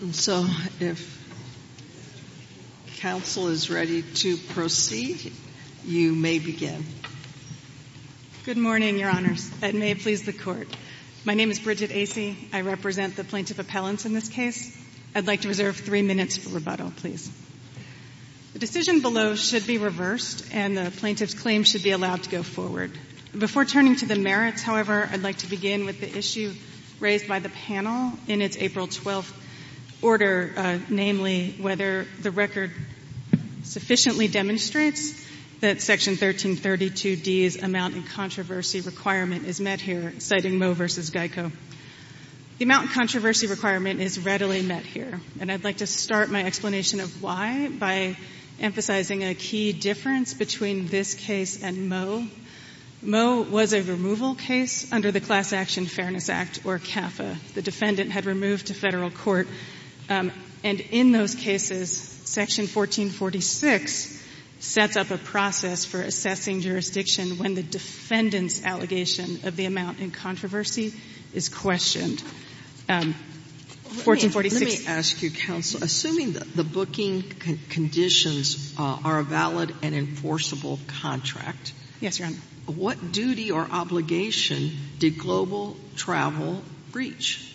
And so, if counsel is ready to proceed, you may begin. Good morning, Your Honors. And may it please the Court. My name is Bridget Acy. I represent the plaintiff appellants in this case. I'd like to reserve three minutes for rebuttal, please. The decision below should be reversed and the plaintiff's claim should be allowed to go forward. Before turning to the merits, however, I'd like to begin with the issue raised by the panel in its April 12th order, namely whether the record sufficiently demonstrates that Section 1332D's amount in controversy requirement is met here, citing Moe v. Geico. The amount in controversy requirement is readily met here, and I'd like to start my explanation of why by emphasizing a key difference between this case and Moe. Moe was a removal case under the Class Action Fairness Act, or CAFA. The defendant had removed to Federal court, and in those cases, Section 1446 sets up a process for assessing jurisdiction when the defendant's allegation of the amount in controversy is questioned. 1446 — Sotomayor, let me ask you, counsel, assuming that the booking conditions are a valid and enforceable contract — Yes, Your Honor. — what duty or obligation did Global Travel breach?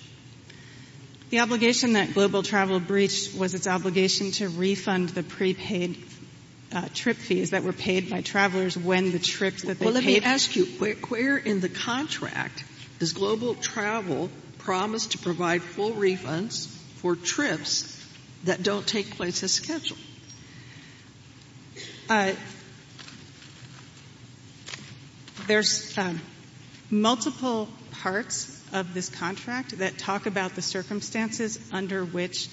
The obligation that Global Travel breached was its obligation to refund the prepaid Well, let me ask you, where in the contract does Global Travel promise to provide full refunds for trips that don't take place as scheduled? There's multiple parts of this contract that talk about the circumstances under which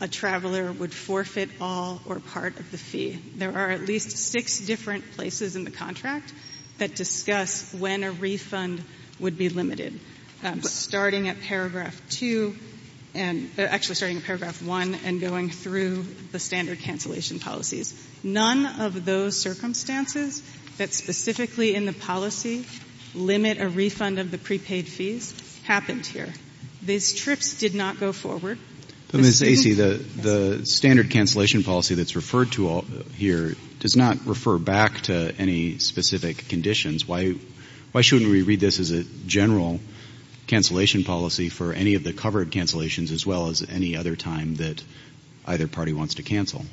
a traveler would forfeit all or part of the fee. There are at least six different places in the contract that discuss when a refund would be limited, starting at paragraph 2 and — actually, starting at paragraph 1 and going through the standard cancellation policies. None of those circumstances that specifically in the policy limit a refund of the prepaid fees happened here. These trips did not go forward. But, Ms. Acey, the standard cancellation policy that's referred to here does not refer back to any specific conditions. Why shouldn't we read this as a general cancellation policy for any of the covered cancellations as well as any other time that either party wants to cancel?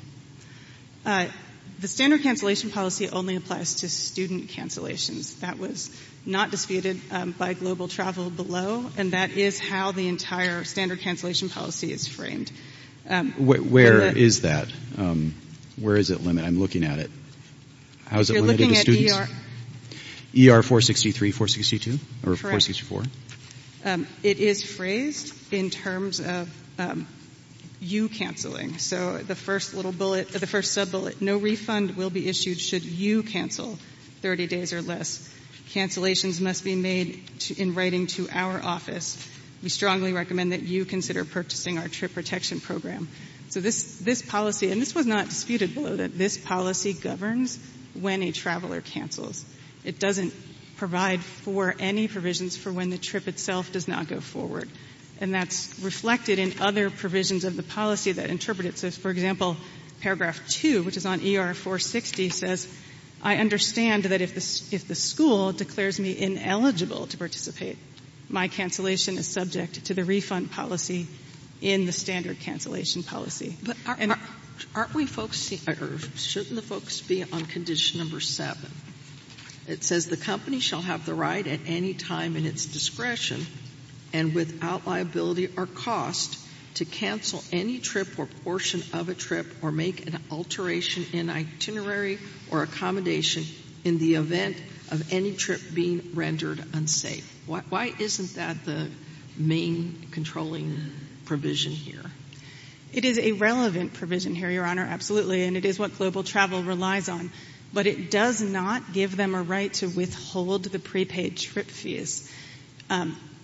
The standard cancellation policy only applies to student cancellations. That was not disputed by Global Travel below, and that is how the entire standard cancellation policy is framed. Where is that? Where is it limited? I'm looking at it. How is it limited to students? If you're looking at ER — ER-463, 462? Correct. Or 464? It is phrased in terms of you canceling. So the first little bullet — the first sub-bullet, no refund will be issued should you cancel 30 days or less. Cancellations must be made in writing to our office. We strongly recommend that you consider purchasing our trip protection program. So this policy — and this was not disputed below — that this policy governs when a traveler cancels. It doesn't provide for any provisions for when the trip itself does not go forward. And that's reflected in other provisions of the policy that interpret it. So, for example, paragraph 2, which is on ER-460, says, I understand that if the school declares me ineligible to participate, my cancellation is subject to the refund policy in the standard cancellation policy. But aren't we folks — or shouldn't the folks be on condition number 7? It says the company shall have the right at any time in its discretion and without liability or cost to cancel any trip or portion of a trip or make an alteration in itinerary or trip being rendered unsafe. Why isn't that the main controlling provision here? It is a relevant provision here, Your Honor, absolutely, and it is what global travel relies on. But it does not give them a right to withhold the prepaid trip fees.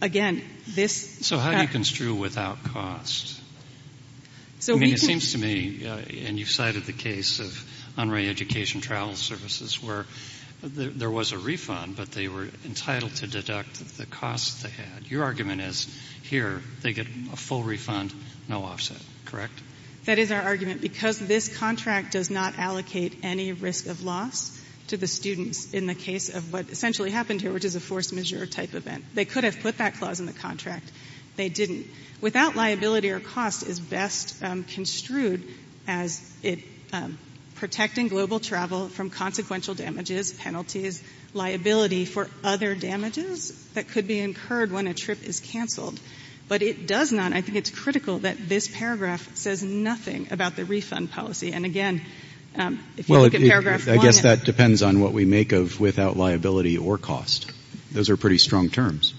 Again, this — So how do you construe without cost? So I mean, it seems to me — and you've cited the case of Unruh Education Travel Services where there was a refund, but they were entitled to deduct the cost they had. Your argument is, here, they get a full refund, no offset, correct? That is our argument. Because this contract does not allocate any risk of loss to the students in the case of what essentially happened here, which is a force majeure type event. They could have put that clause in the contract. They didn't. I mean, without liability or cost is best construed as protecting global travel from consequential damages, penalties, liability for other damages that could be incurred when a trip is canceled. But it does not — I think it's critical that this paragraph says nothing about the refund policy. And again, if you look at paragraph one — Well, I guess that depends on what we make of without liability or cost. Those are pretty strong terms.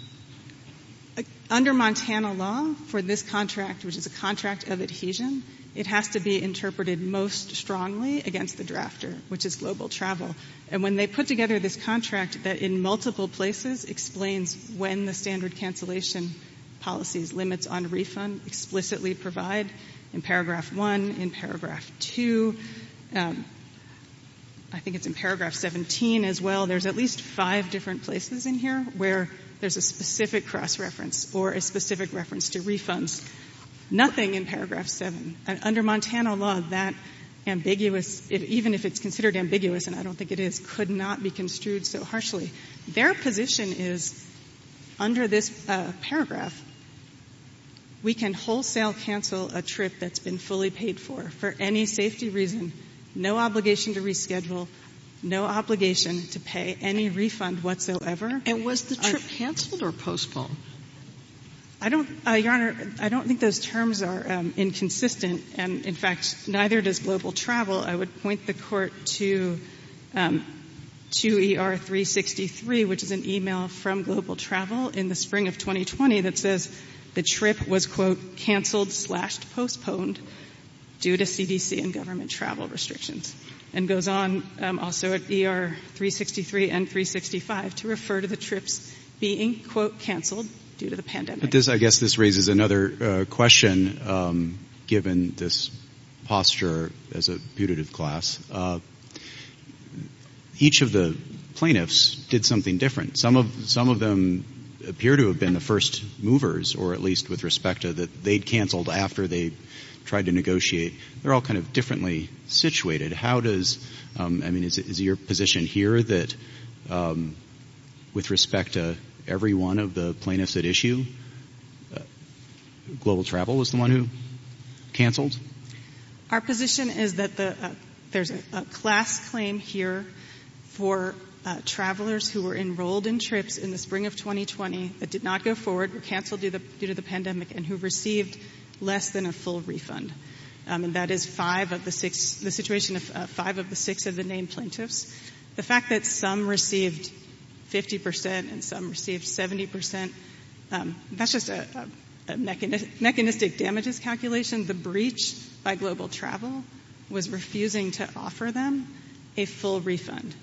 Under Montana law, for this contract, which is a contract of adhesion, it has to be interpreted most strongly against the drafter, which is global travel. And when they put together this contract that in multiple places explains when the standard cancellation policies limits on refund explicitly provide, in paragraph one, in paragraph two, I think it's in paragraph 17 as well, there's at least five different places in here where there's a specific cross-reference or a specific reference to refunds. Nothing in paragraph seven. Under Montana law, that ambiguous — even if it's considered ambiguous, and I don't think it is — could not be construed so harshly. Their position is, under this paragraph, we can wholesale cancel a trip that's been fully paid for, for any safety reason, no obligation to reschedule, no obligation to pay any refund whatsoever. And was the trip canceled or postponed? I don't — Your Honor, I don't think those terms are inconsistent, and in fact, neither does global travel. I would point the Court to — to ER-363, which is an email from Global Travel in the spring of 2020 that says the trip was, quote, canceled slash postponed due to CDC and government travel restrictions, and goes on also at ER-363 and 365 to refer to the trips being, quote, canceled due to the pandemic. But this — I guess this raises another question, given this posture as a putative class. Each of the plaintiffs did something different. Some of — some of them appear to have been the first movers, or at least with respect to — that they'd canceled after they tried to negotiate. They're all kind of differently situated. How does — I mean, is your position here that, with respect to every one of the plaintiffs at issue, Global Travel was the one who canceled? Our position is that the — there's a class claim here for travelers who were enrolled in trips in the spring of 2020 that did not go forward, were canceled due to the pandemic, and who received less than a full refund. And that is five of the six — the situation of five of the six of the named plaintiffs. The fact that some received 50 percent and some received 70 percent, that's just a mechanistic damages calculation. The breach by Global Travel was refusing to offer them a full refund.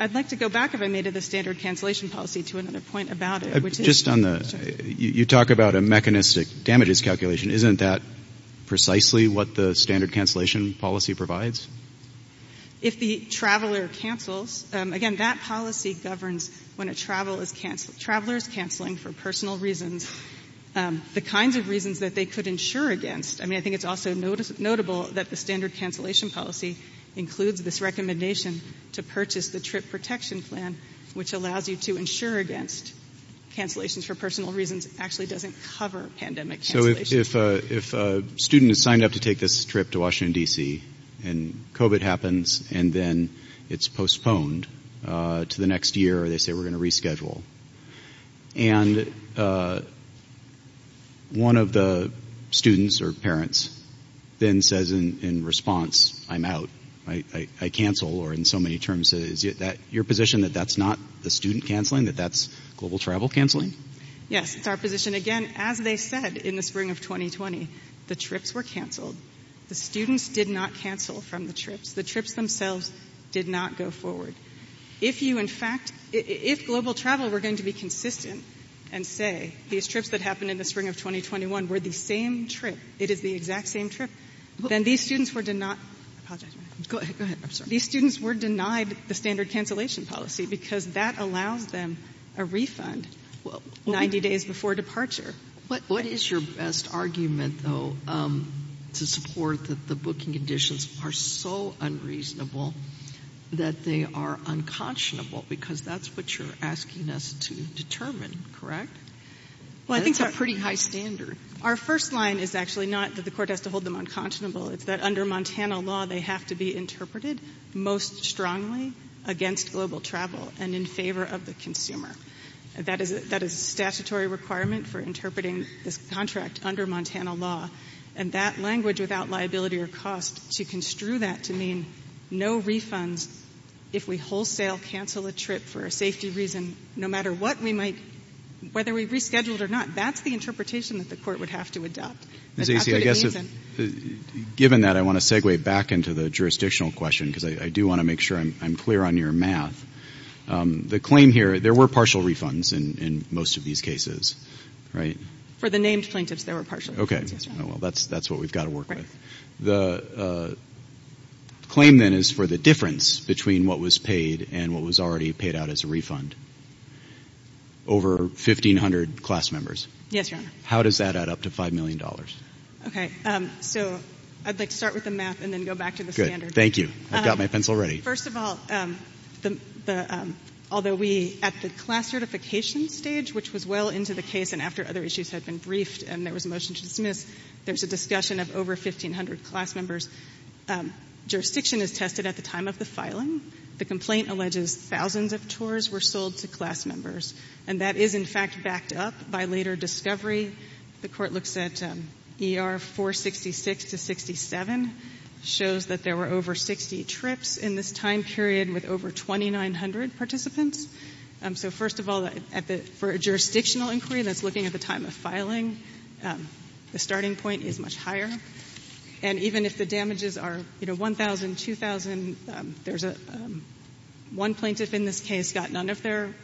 I'd like to go back, if I may, to the standard cancellation policy to another point about it, which is — Just on the — you talk about a mechanistic damages calculation. Isn't that precisely what the standard cancellation policy provides? If the traveler cancels — again, that policy governs when a traveler is cancelling for personal reasons, the kinds of reasons that they could insure against. I mean, I think it's also notable that the standard cancellation policy includes this protection plan, which allows you to insure against cancellations for personal reasons, actually doesn't cover pandemic cancellations. So if a student is signed up to take this trip to Washington, D.C., and COVID happens, and then it's postponed to the next year, or they say, we're going to reschedule, and one of the students or parents then says in response, I'm out, I cancel, or in so many terms, is it your position that that's not the student canceling, that that's global travel canceling? Yes. It's our position. Again, as they said in the spring of 2020, the trips were canceled. The students did not cancel from the trips. The trips themselves did not go forward. If you in fact — if global travel were going to be consistent and say these trips that happened in the spring of 2021 were the same trip, it is the exact same trip, then these students were — I apologize. Go ahead. I'm sorry. These students were denied the standard cancellation policy because that allows them a refund 90 days before departure. What is your best argument, though, to support that the booking conditions are so unreasonable that they are unconscionable? Because that's what you're asking us to determine, correct? That's a pretty high standard. Our first line is actually not that the court has to hold them unconscionable. It's that under Montana law, they have to be interpreted most strongly against global travel and in favor of the consumer. That is a statutory requirement for interpreting this contract under Montana law. And that language, without liability or cost, to construe that to mean no refunds if we wholesale cancel a trip for a safety reason, no matter what we might — whether we rescheduled or not, that's the interpretation that the court would have to adopt. Ms. Acy, I guess if — given that, I want to segue back into the jurisdictional question because I do want to make sure I'm clear on your math. The claim here — there were partial refunds in most of these cases, right? For the named plaintiffs, there were partial refunds. Okay. Well, that's what we've got to work with. Right. The claim, then, is for the difference between what was paid and what was already paid out as a refund. Over 1,500 class members. Yes, Your Honor. How does that add up to $5 million? Okay. So, I'd like to start with the math and then go back to the standard. Good. Thank you. I've got my pencil ready. First of all, although we — at the class certification stage, which was well into the case and after other issues had been briefed and there was a motion to dismiss, there's a discussion of over 1,500 class members. Jurisdiction is tested at the time of the filing. The complaint alleges thousands of tours were sold to class members. And that is, in fact, backed up by later discovery. The Court looks at ER 466 to 67, shows that there were over 60 trips in this time period with over 2,900 participants. So first of all, for a jurisdictional inquiry that's looking at the time of filing, the starting point is much higher. And even if the damages are, you know, $1,000, $2,000, there's a — one plaintiff in this case got none of their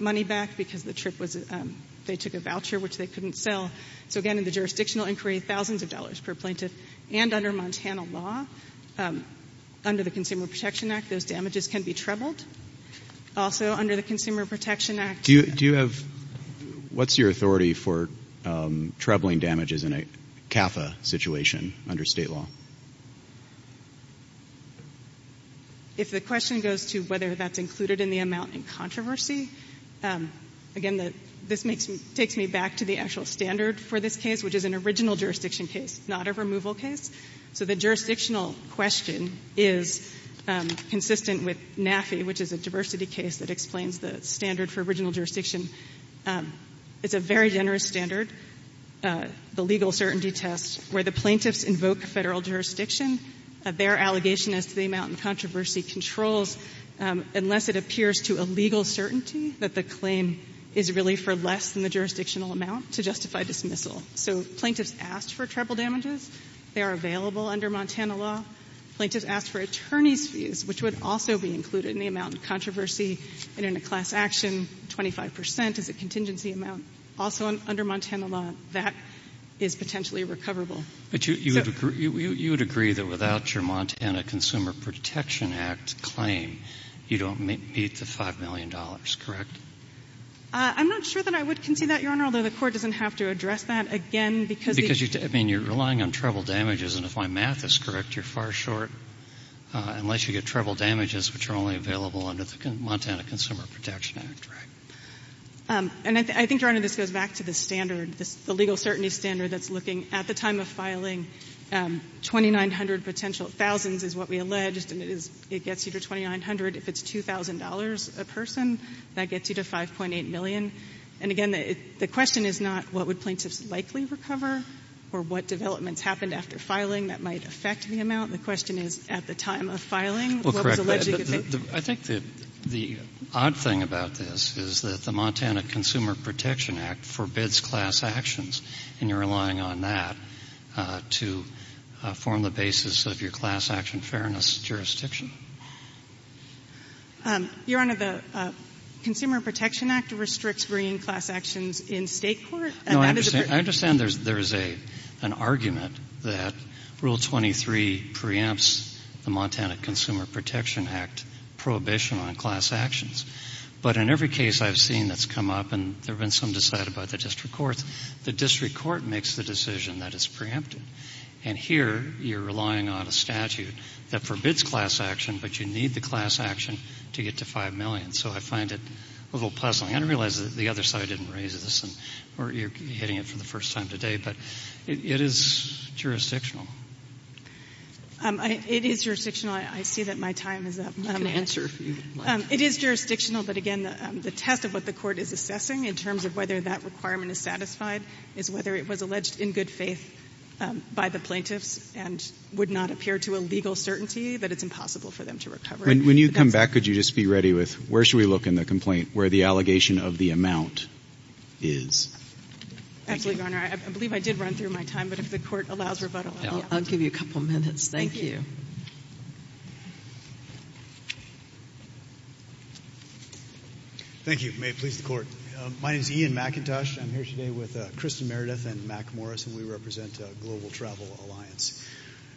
money back because the trip was — they took a voucher which they couldn't sell. So again, in the jurisdictional inquiry, thousands of dollars per plaintiff. And under Montana law, under the Consumer Protection Act, those damages can be trebled. Also under the Consumer Protection Act — Do you have — what's your authority for trebling damages in a CAFA situation under state law? If the question goes to whether that's included in the amount in controversy, again, this makes me — takes me back to the actual standard for this case, which is an original jurisdiction case, not a removal case. So the jurisdictional question is consistent with NAFI, which is a diversity case that explains the standard for original jurisdiction. It's a very generous standard. The legal certainty test, where the plaintiffs invoke Federal jurisdiction, their allegation as to the amount in controversy controls unless it appears to a legal certainty that the claim is really for less than the jurisdictional amount to justify dismissal. So plaintiffs asked for treble damages. They are available under Montana law. Plaintiffs asked for attorney's fees, which would also be included in the amount in controversy. And in a class action, 25 percent is a contingency amount. Also, under Montana law, that is potentially recoverable. But you would agree that without your Montana Consumer Protection Act claim, you don't meet the $5 million, correct? I'm not sure that I would concede that, Your Honor, although the Court doesn't have to address that. Again, because — Because, I mean, you're relying on treble damages. And if my math is correct, you're far short, unless you get treble damages, which are only available under the Montana Consumer Protection Act, right? And I think, Your Honor, this goes back to the standard, the legal certainty standard that's looking at the time of filing, 2,900 potential — thousands is what we alleged, and it gets you to 2,900. If it's $2,000 a person, that gets you to 5.8 million. And, again, the question is not what would plaintiffs likely recover or what developments happened after filing that might affect the amount. The question is at the time of filing, what was alleged you could take. I think the odd thing about this is that the Montana Consumer Protection Act forbids class actions, and you're relying on that to form the basis of your class action fairness jurisdiction. Your Honor, the Consumer Protection Act restricts bringing class actions in state court. No, I understand there's an argument that Rule 23 preempts the Montana Consumer Protection Act prohibition on class actions. But in every case I've seen that's come up, and there have been some decided by the district courts, the district court makes the decision that it's preempted. And here, you're relying on a statute that forbids class action, but you need the class action to get to 5 million. So I find it a little puzzling. I didn't realize that the other side didn't raise this, or you're hitting it for the first time today, but it is jurisdictional. It is jurisdictional. I see that my time is up. You can answer if you'd like. It is jurisdictional, but again, the test of what the court is assessing in terms of whether that requirement is satisfied is whether it was alleged in good faith by the plaintiffs and would not appear to a legal certainty that it's impossible for them to recover. When you come back, could you just be ready with, where should we look in the complaint, where the allegation of the amount is? Absolutely, Your Honor. I believe I did run through my time, but if the court allows rebuttal, I'll give you a couple minutes. Thank you. Thank you. Thank you. May it please the Court. My name is Ian McIntosh. I'm here today with Kristen Meredith and Mack Morris, and we represent Global Travel Alliance.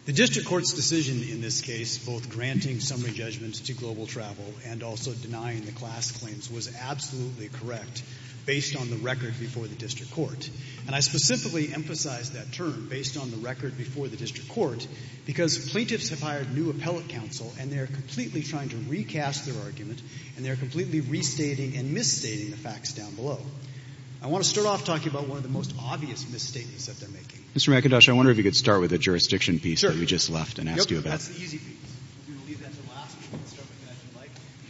The district court's decision in this case, both granting summary judgments to Global Travel and also denying the class claims, was absolutely correct based on the record before the district court. And I specifically emphasize that term, based on the record before the district court, because plaintiffs have hired new appellate counsel, and they're completely trying to recast their argument, and they're completely restating and misstating the facts down below. I want to start off talking about one of the most obvious misstatements that they're making. Mr. McIntosh, I wonder if you could start with the jurisdiction piece that we just left and asked you about. Sure. That's the easy piece. We will leave that to last.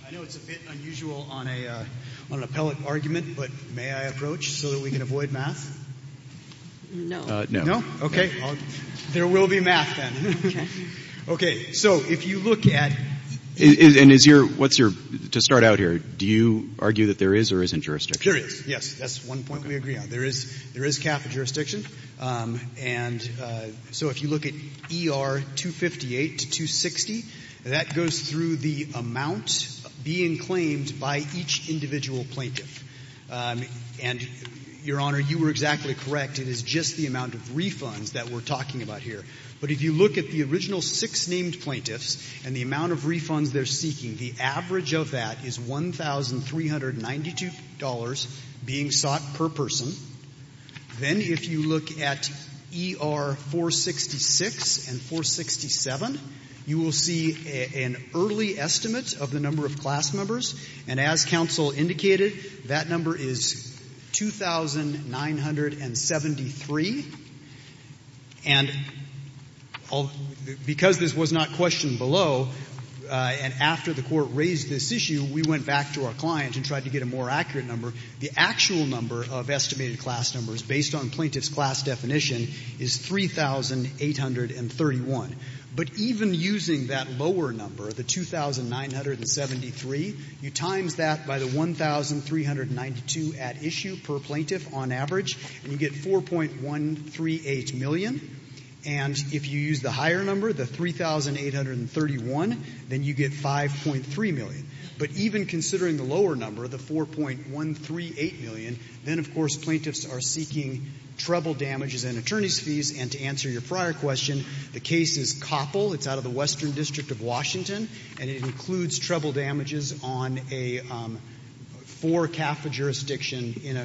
I know it's a bit unusual on an appellate argument, but may I approach so that we can avoid math? No. No? No? Okay. Okay. There will be math then. Okay. Okay. So if you look at — And is your — what's your — to start out here, do you argue that there is or isn't jurisdiction? There is. Yes. That's one point we agree on. There is — there is CAF jurisdiction. And so if you look at ER 258 to 260, that goes through the amount being claimed by each individual plaintiff. And Your Honor, you were exactly correct. It is just the amount of refunds that we're talking about here. But if you look at the original six named plaintiffs and the amount of refunds they're seeking, the average of that is $1,392 being sought per person. Then if you look at ER 466 and 467, you will see an early estimate of the number of class numbers based on plaintiff's class definition is 3,831. But even using that lower number, the 2,973, you times that by the 1,392 at issue per plaintiff on average, and you get 4.138 million. And if you use the higher number, the 3,831, then you get 5.3 million. But even considering the lower number, the 4.138 million, then, of course, plaintiffs are seeking treble damages and attorney's fees. And to answer your prior question, the case is Coppell. It's out of the Western District of Washington, and it includes treble damages on a four-calf jurisdiction in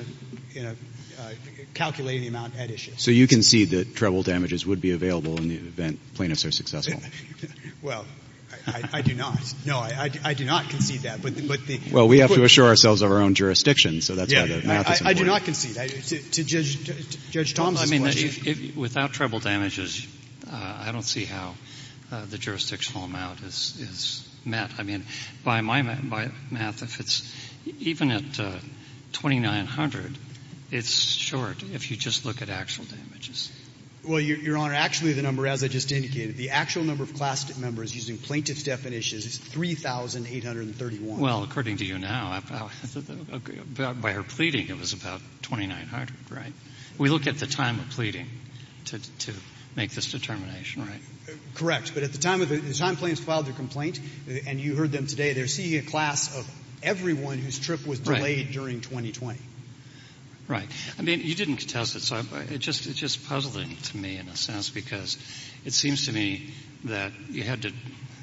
a calculating amount at issue. So you concede that treble damages would be available in the event plaintiffs are successful? Well, I do not. No, I do not concede that. But the question is the court's decision. Well, we have to assure ourselves of our own jurisdiction, so that's why the math is important. I do not concede. To Judge Thomas's question. Well, I mean, without treble damages, I don't see how the jurisdictional amount is met. I mean, by my math, if it's even at 2,900, it's short if you just look at actual damages. Well, Your Honor, actually, the number, as I just indicated, the actual number of class members using plaintiff's definition is 3,831. Well, according to you now, by her pleading, it was about 2,900, right? We look at the time of pleading to make this determination, right? Correct. But at the time the time plaintiffs filed their complaint, and you heard them today, they're seeing a class of everyone whose trip was delayed during 2020. Right. I mean, you didn't contest it, so it's just puzzling to me, in a sense, because it seems to me that you had to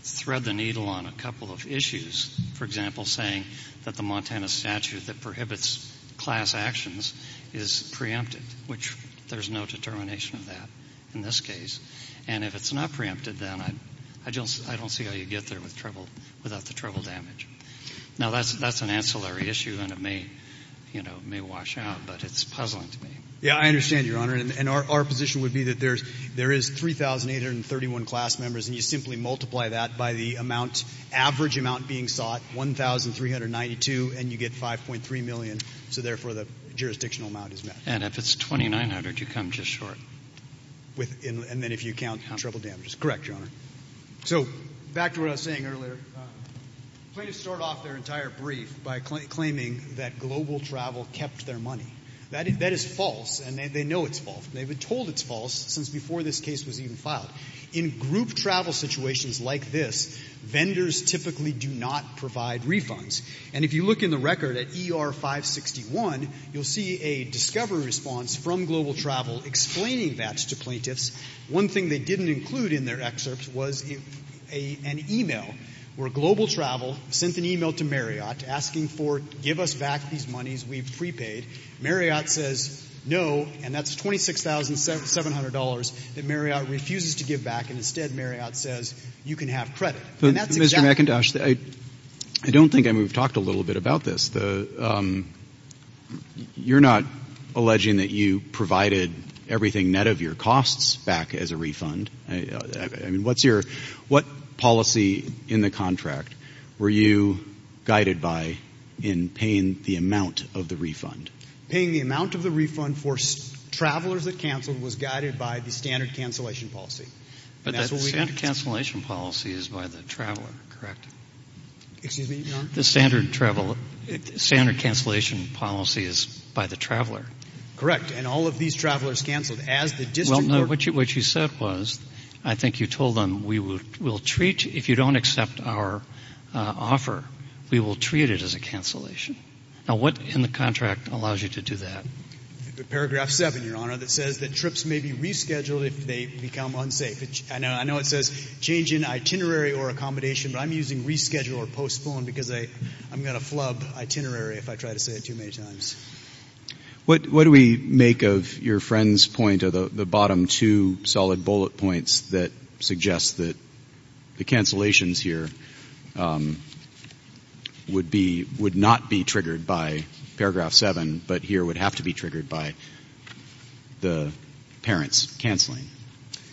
thread the needle on a couple of issues, for example, saying that the Montana statute that prohibits class actions is preempted, which there's no determination of that in this case. And if it's not preempted, then I don't see how you get there without the trouble damage. Now, that's an ancillary issue, and it may wash out, but it's puzzling to me. Yeah, I understand, Your Honor, and our position would be that there is 3,831 class members, and you simply multiply that by the amount, average amount being sought, 1,392, and you get 5.3 million. So, therefore, the jurisdictional amount is met. And if it's 2,900, you come just short. And then if you count trouble damages. Correct, Your Honor. So, back to what I was saying earlier, plaintiffs start off their entire brief by claiming that Global Travel kept their money. That is false, and they know it's false. They've been told it's false since before this case was even filed. In group travel situations like this, vendors typically do not provide refunds. And if you look in the record at ER 561, you'll see a discovery response from plaintiffs. One thing they didn't include in their excerpts was an email where Global Travel sent an email to Marriott asking for, give us back these monies we've prepaid. Marriott says no, and that's $26,700 that Marriott refuses to give back. And instead, Marriott says, you can have credit. And that's exactly- Mr. McIntosh, I don't think, I mean, we've talked a little bit about this. The, you're not alleging that you provided everything net of your costs back as a refund. I mean, what's your, what policy in the contract were you guided by in paying the amount of the refund? Paying the amount of the refund for travelers that canceled was guided by the standard cancellation policy. But the standard cancellation policy is by the traveler, correct? Excuse me, Your Honor? The standard travel, standard cancellation policy is by the traveler. Correct. And all of these travelers canceled as the district- Well, no, what you said was, I think you told them, we will treat, if you don't accept our offer, we will treat it as a cancellation. Now, what in the contract allows you to do that? The paragraph 7, Your Honor, that says that trips may be rescheduled if they become unsafe. I know it says change in itinerary or accommodation, but I'm using reschedule or I'm going to flub itinerary if I try to say it too many times. What do we make of your friend's point of the bottom two solid bullet points that suggest that the cancellations here would be, would not be triggered by paragraph 7, but here would have to be triggered by the parents canceling?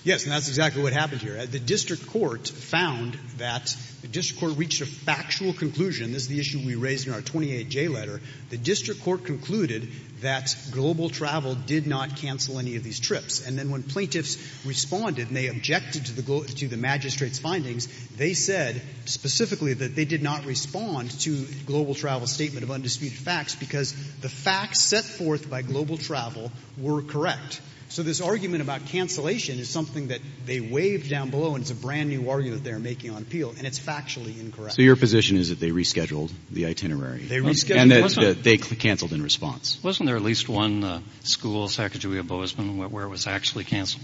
Yes, and that's exactly what happened here. The district court found that, the district court reached a factual conclusion. This is the issue we raised in our 28-J letter. The district court concluded that global travel did not cancel any of these trips. And then when plaintiffs responded and they objected to the magistrate's findings, they said specifically that they did not respond to global travel statement of undisputed facts because the facts set forth by global travel were correct. So this argument about cancellation is something that they waved down below and it's a brand new argument they're making on appeal and it's factually incorrect. So your position is that they rescheduled the itinerary? They rescheduled. And that they canceled in response? Wasn't there at least one school, Sacajawea Bozeman, where it was actually canceled?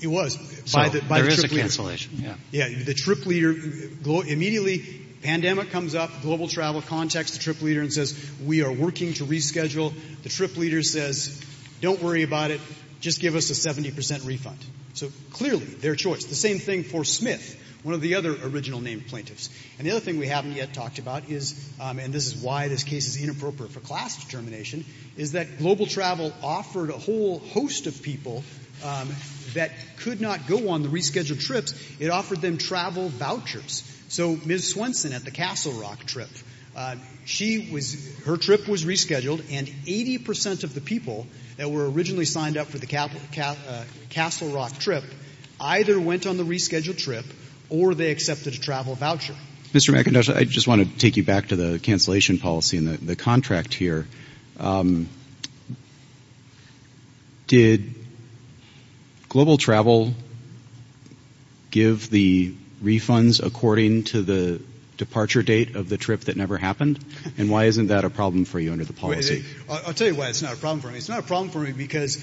It was. So there is a cancellation, yeah. Yeah, the trip leader, immediately pandemic comes up, global travel contacts the trip leader and says, we are working to reschedule. The trip leader says, don't worry about it, just give us a 70% refund. So clearly, their choice. The same thing for Smith, one of the other original named plaintiffs. And the other thing we haven't yet talked about is, and this is why this case is inappropriate for class determination, is that global travel offered a whole host of people that could not go on the rescheduled trips, it offered them travel vouchers. So Ms. Swenson at the Castle Rock trip, her trip was rescheduled and 80% of the people that were originally signed up for the Castle Rock trip, either went on the rescheduled trip or they accepted a travel voucher. Mr. McIntosh, I just want to take you back to the cancellation policy and the contract here. Did global travel give the refunds according to the departure date of the trip that never happened? And why isn't that a problem for you under the policy? I'll tell you why it's not a problem for me. It's not a problem for me because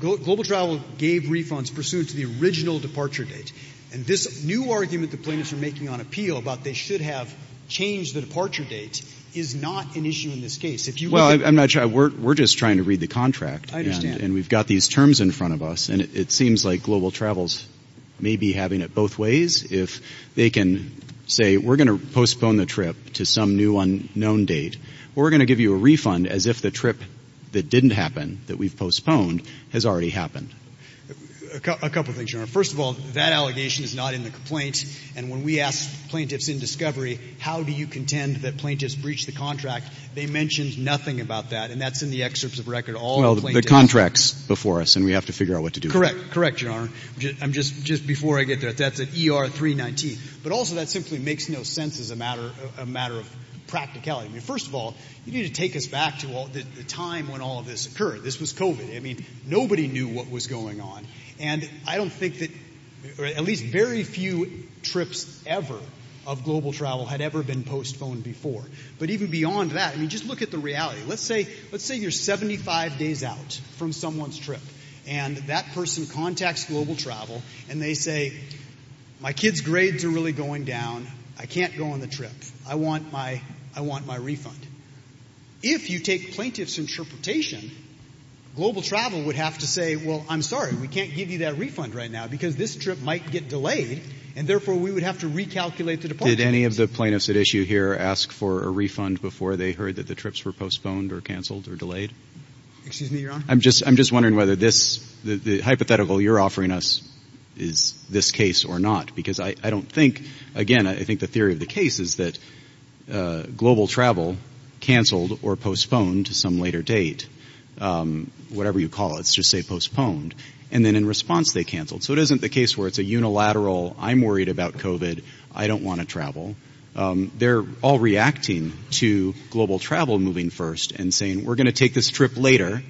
global travel gave refunds pursuant to the original departure date. And this new argument the plaintiffs are making on appeal about they should have changed the departure date is not an issue in this case. If you look at- Well, I'm not sure. We're just trying to read the contract. I understand. And we've got these terms in front of us. And it seems like global travels may be having it both ways. If they can say, we're gonna postpone the trip to some new unknown date. We're gonna give you a refund as if the trip that didn't happen, that we've postponed, has already happened. A couple of things, Your Honor. First of all, that allegation is not in the complaint. And when we ask plaintiffs in discovery, how do you contend that plaintiffs breached the contract? They mentioned nothing about that. And that's in the excerpts of record. All the plaintiffs- Well, the contract's before us and we have to figure out what to do. Correct. Correct, Your Honor. I'm just, just before I get there, that's an ER 319. But also that simply makes no sense as a matter, a matter of practicality. I mean, first of all, you need to take us back to the time when all of this occurred. This was COVID. I mean, nobody knew what was going on. And I don't think that, or at least very few trips ever of global travel had ever been postponed before. But even beyond that, I mean, just look at the reality. Let's say, let's say you're 75 days out from someone's trip. And that person contacts Global Travel. And they say, my kid's grades are really going down. I can't go on the trip. I want my, I want my refund. If you take plaintiff's interpretation, Global Travel would have to say, well, I'm sorry, we can't give you that refund right now because this trip might get delayed. And therefore, we would have to recalculate the department. Did any of the plaintiffs at issue here ask for a refund before they heard that the trips were postponed or canceled or delayed? Excuse me, Your Honor? I'm just, I'm just wondering whether this, the hypothetical you're offering us is this case or not. Because I, I don't think, again, I think the theory of the case is that Global Travel canceled or postponed to some later date. Whatever you call it, let's just say postponed. And then in response, they canceled. So it isn't the case where it's a unilateral, I'm worried about COVID. I don't want to travel. They're all reacting to Global Travel moving first and saying, we're going to take this trip later.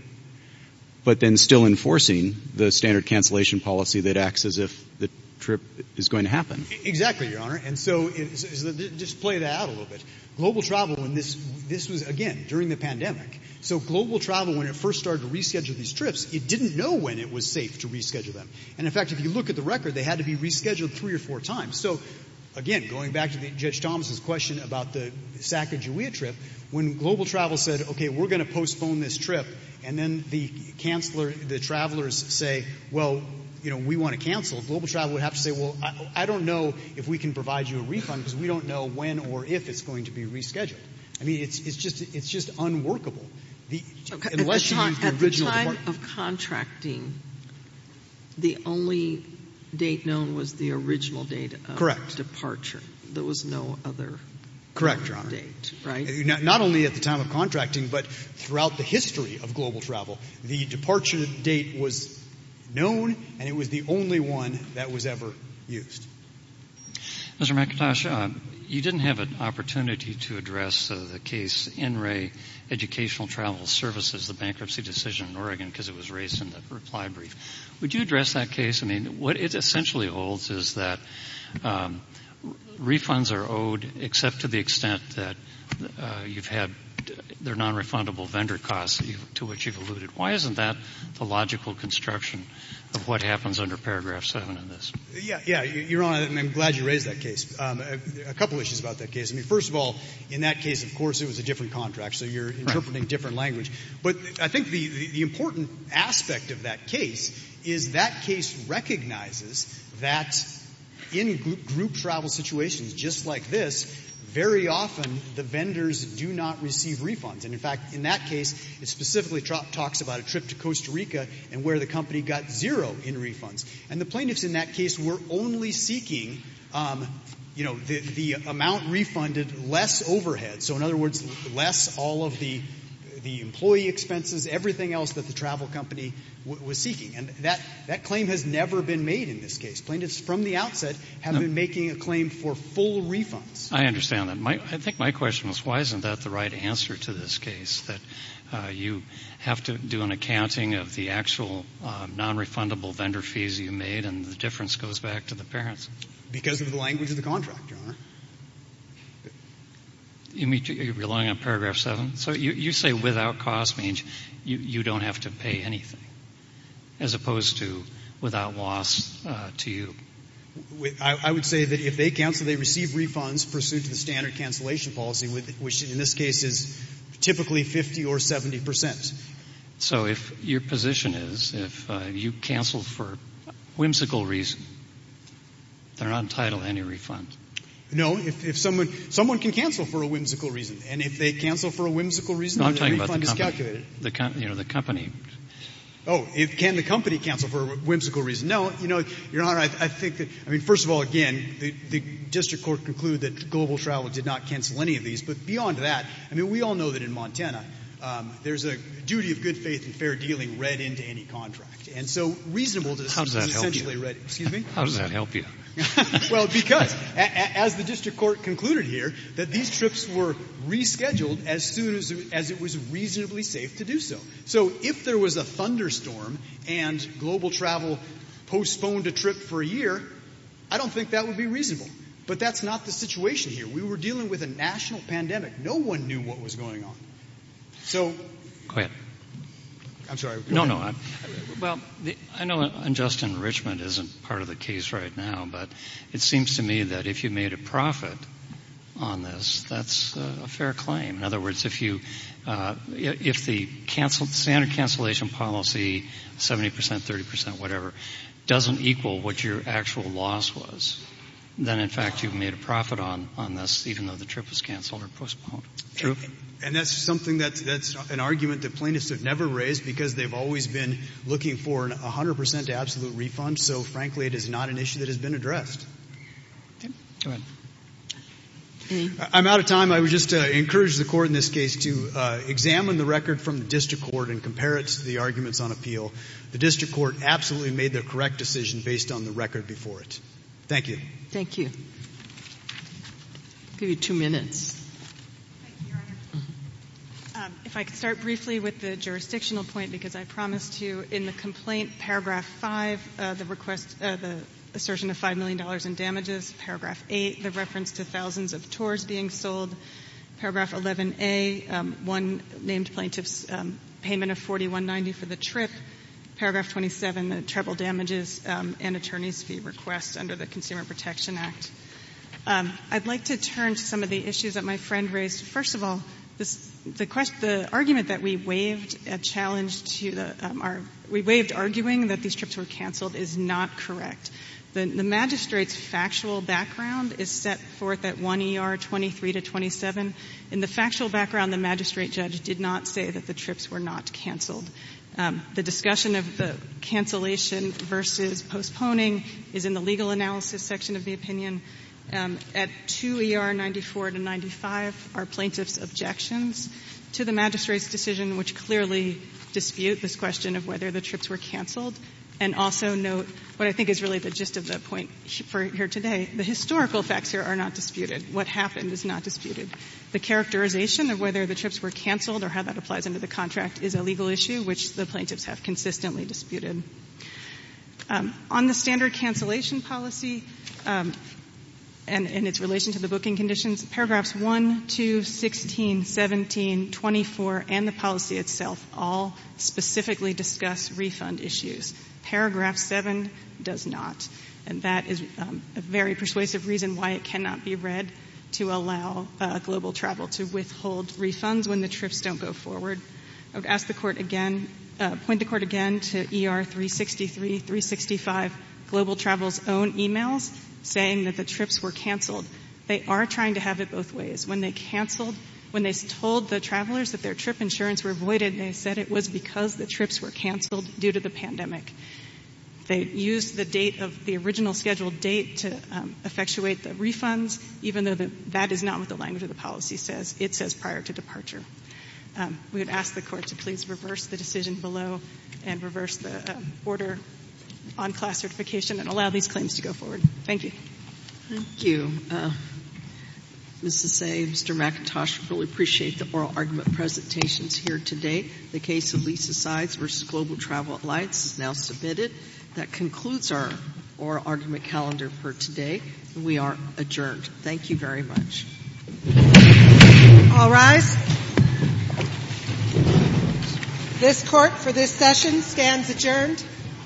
But then still enforcing the standard cancellation policy that acts as if the trip is going to happen. Exactly, Your Honor. And so, just play that out a little bit. Global Travel, and this, this was, again, during the pandemic. So Global Travel, when it first started to reschedule these trips, it didn't know when it was safe to reschedule them. And in fact, if you look at the record, they had to be rescheduled three or four times. So, again, going back to Judge Thomas's question about the Sacajawea trip, when Global Travel said, okay, we're going to postpone this trip. And then the canceller, the travelers say, well, you know, we want to cancel. Global Travel would have to say, well, I don't know if we can provide you a refund because we don't know when or if it's going to be rescheduled. I mean, it's just, it's just unworkable. The, unless you use the original. At the time of contracting, the only date known was the original date of departure. Correct. There was no other. Correct, Your Honor. Date, right? Not only at the time of contracting, but throughout the history of Global Travel. The departure date was known, and it was the only one that was ever used. Mr. McIntosh, you didn't have an opportunity to address the case NRA Educational Travel Services, the bankruptcy decision in Oregon, because it was raised in the reply brief. Would you address that case? I mean, what it essentially holds is that refunds are owed except to the extent that you've had their non-refundable vendor costs to which you've alluded. Why isn't that the logical construction of what happens under paragraph seven in this? Yeah, yeah, Your Honor, and I'm glad you raised that case. A couple issues about that case. I mean, first of all, in that case, of course, it was a different contract, so you're interpreting different language. But I think the important aspect of that case is that case recognizes that in group travel situations just like this, very often the vendors do not receive refunds. And in fact, in that case, it specifically talks about a trip to Costa Rica and where the company got zero in refunds. And the plaintiffs in that case were only seeking, you know, the amount refunded less overhead. So in other words, less all of the employee expenses, everything else that the travel company was seeking. And that claim has never been made in this case. Plaintiffs from the outset have been making a claim for full refunds. I understand that. I think my question was why isn't that the right answer to this case, that you have to do an accounting of the actual non-refundable vendor fees you made and the difference goes back to the parents? Because of the language of the contract, Your Honor. You're relying on paragraph seven? So you say without cost means you don't have to pay anything. As opposed to without loss to you. I would say that if they cancel, they receive refunds pursuant to the standard cancellation policy, which in this case is typically 50 or 70%. So if your position is if you cancel for a whimsical reason, they're not entitled to any refund. No. If someone can cancel for a whimsical reason, and if they cancel for a whimsical reason, their refund is calculated. The company. Oh, can the company cancel for a whimsical reason? No. Your Honor, I think that, I mean, first of all, again, the district court concluded that Global Travel did not cancel any of these. But beyond that, I mean, we all know that in Montana, there's a duty of good faith and fair dealing read into any contract. And so reasonable is essentially read. Excuse me? How does that help you? Well, because as the district court concluded here, that these trips were rescheduled as soon as it was reasonably safe to do so. So if there was a thunderstorm and Global Travel postponed a trip for a year, I don't think that would be reasonable. But that's not the situation here. We were dealing with a national pandemic. No one knew what was going on. So. Go ahead. I'm sorry. No, no. Well, I know unjust enrichment isn't part of the case right now, but it seems to me that if you made a profit on this, that's a fair claim. In other words, if you, if the canceled, standard cancellation policy, 70 percent, 30 percent, whatever, doesn't equal what your actual loss was, then in fact, you've made a profit on this, even though the trip was canceled or postponed. True. And that's something that's an argument that plaintiffs have never raised because they've always been looking for a 100 percent absolute refund. So frankly, it is not an issue that has been addressed. Go ahead. I'm out of time. I would just encourage the court in this case to examine the record from the district court and compare it to the arguments on appeal. The district court absolutely made the correct decision based on the record before it. Thank you. Thank you. I'll give you two minutes. Thank you, Your Honor. If I could start briefly with the jurisdictional point, because I promised you in the complaint, paragraph five, the request, the assertion of $5 million in damages, paragraph eight, the reference to thousands of tours being sold, paragraph 11A, one named plaintiff's payment of $41.90 for the trip, paragraph 27, the treble damages and attorney's fee request under the Consumer Protection Act. I'd like to turn to some of the issues that my friend raised. First of all, the argument that we waived a challenge to the — we waived arguing that these trips were canceled is not correct. The magistrate's factual background is set forth at 1 ER 23 to 27. In the factual background, the magistrate judge did not say that the trips were not canceled. The discussion of the cancellation versus postponing is in the legal analysis section of the opinion. At 2 ER 94 to 95 are plaintiff's objections to the magistrate's decision which clearly dispute this question of whether the trips were canceled. And also note what I think is really the gist of the point here today. The historical facts here are not disputed. What happened is not disputed. The characterization of whether the trips were canceled or how that applies into the contract is a legal issue which the plaintiffs have consistently disputed. On the standard cancellation policy and its relation to the booking conditions, paragraphs 1, 2, 16, 17, 24 and the policy itself all specifically discuss refund issues. Paragraph 7 does not. And that is a very persuasive reason why it cannot be read to allow global travel to withhold refunds when the trips don't go forward. I would ask the Court again — point the Court again to ER 363, 365, global travel's own emails saying that the trips were canceled. They are trying to have it both ways. When they canceled — when they told the travelers that their trip insurance were voided, they said it was because the trips were canceled due to the pandemic. They used the date of — the original scheduled date to effectuate the refunds, even though that is not what the language of the policy says. It says prior to departure. We would ask the Court to please reverse the decision below and reverse the order on class certification and allow these claims to go forward. Thank you. Thank you. Ms. Assay, Mr. McIntosh, we really appreciate the oral argument presentations here today. The case of Lisa Sides v. Global Travel Alliance is now submitted. That concludes our oral argument calendar for today. We are adjourned. Thank you very much. All rise. This Court, for this session, stands adjourned.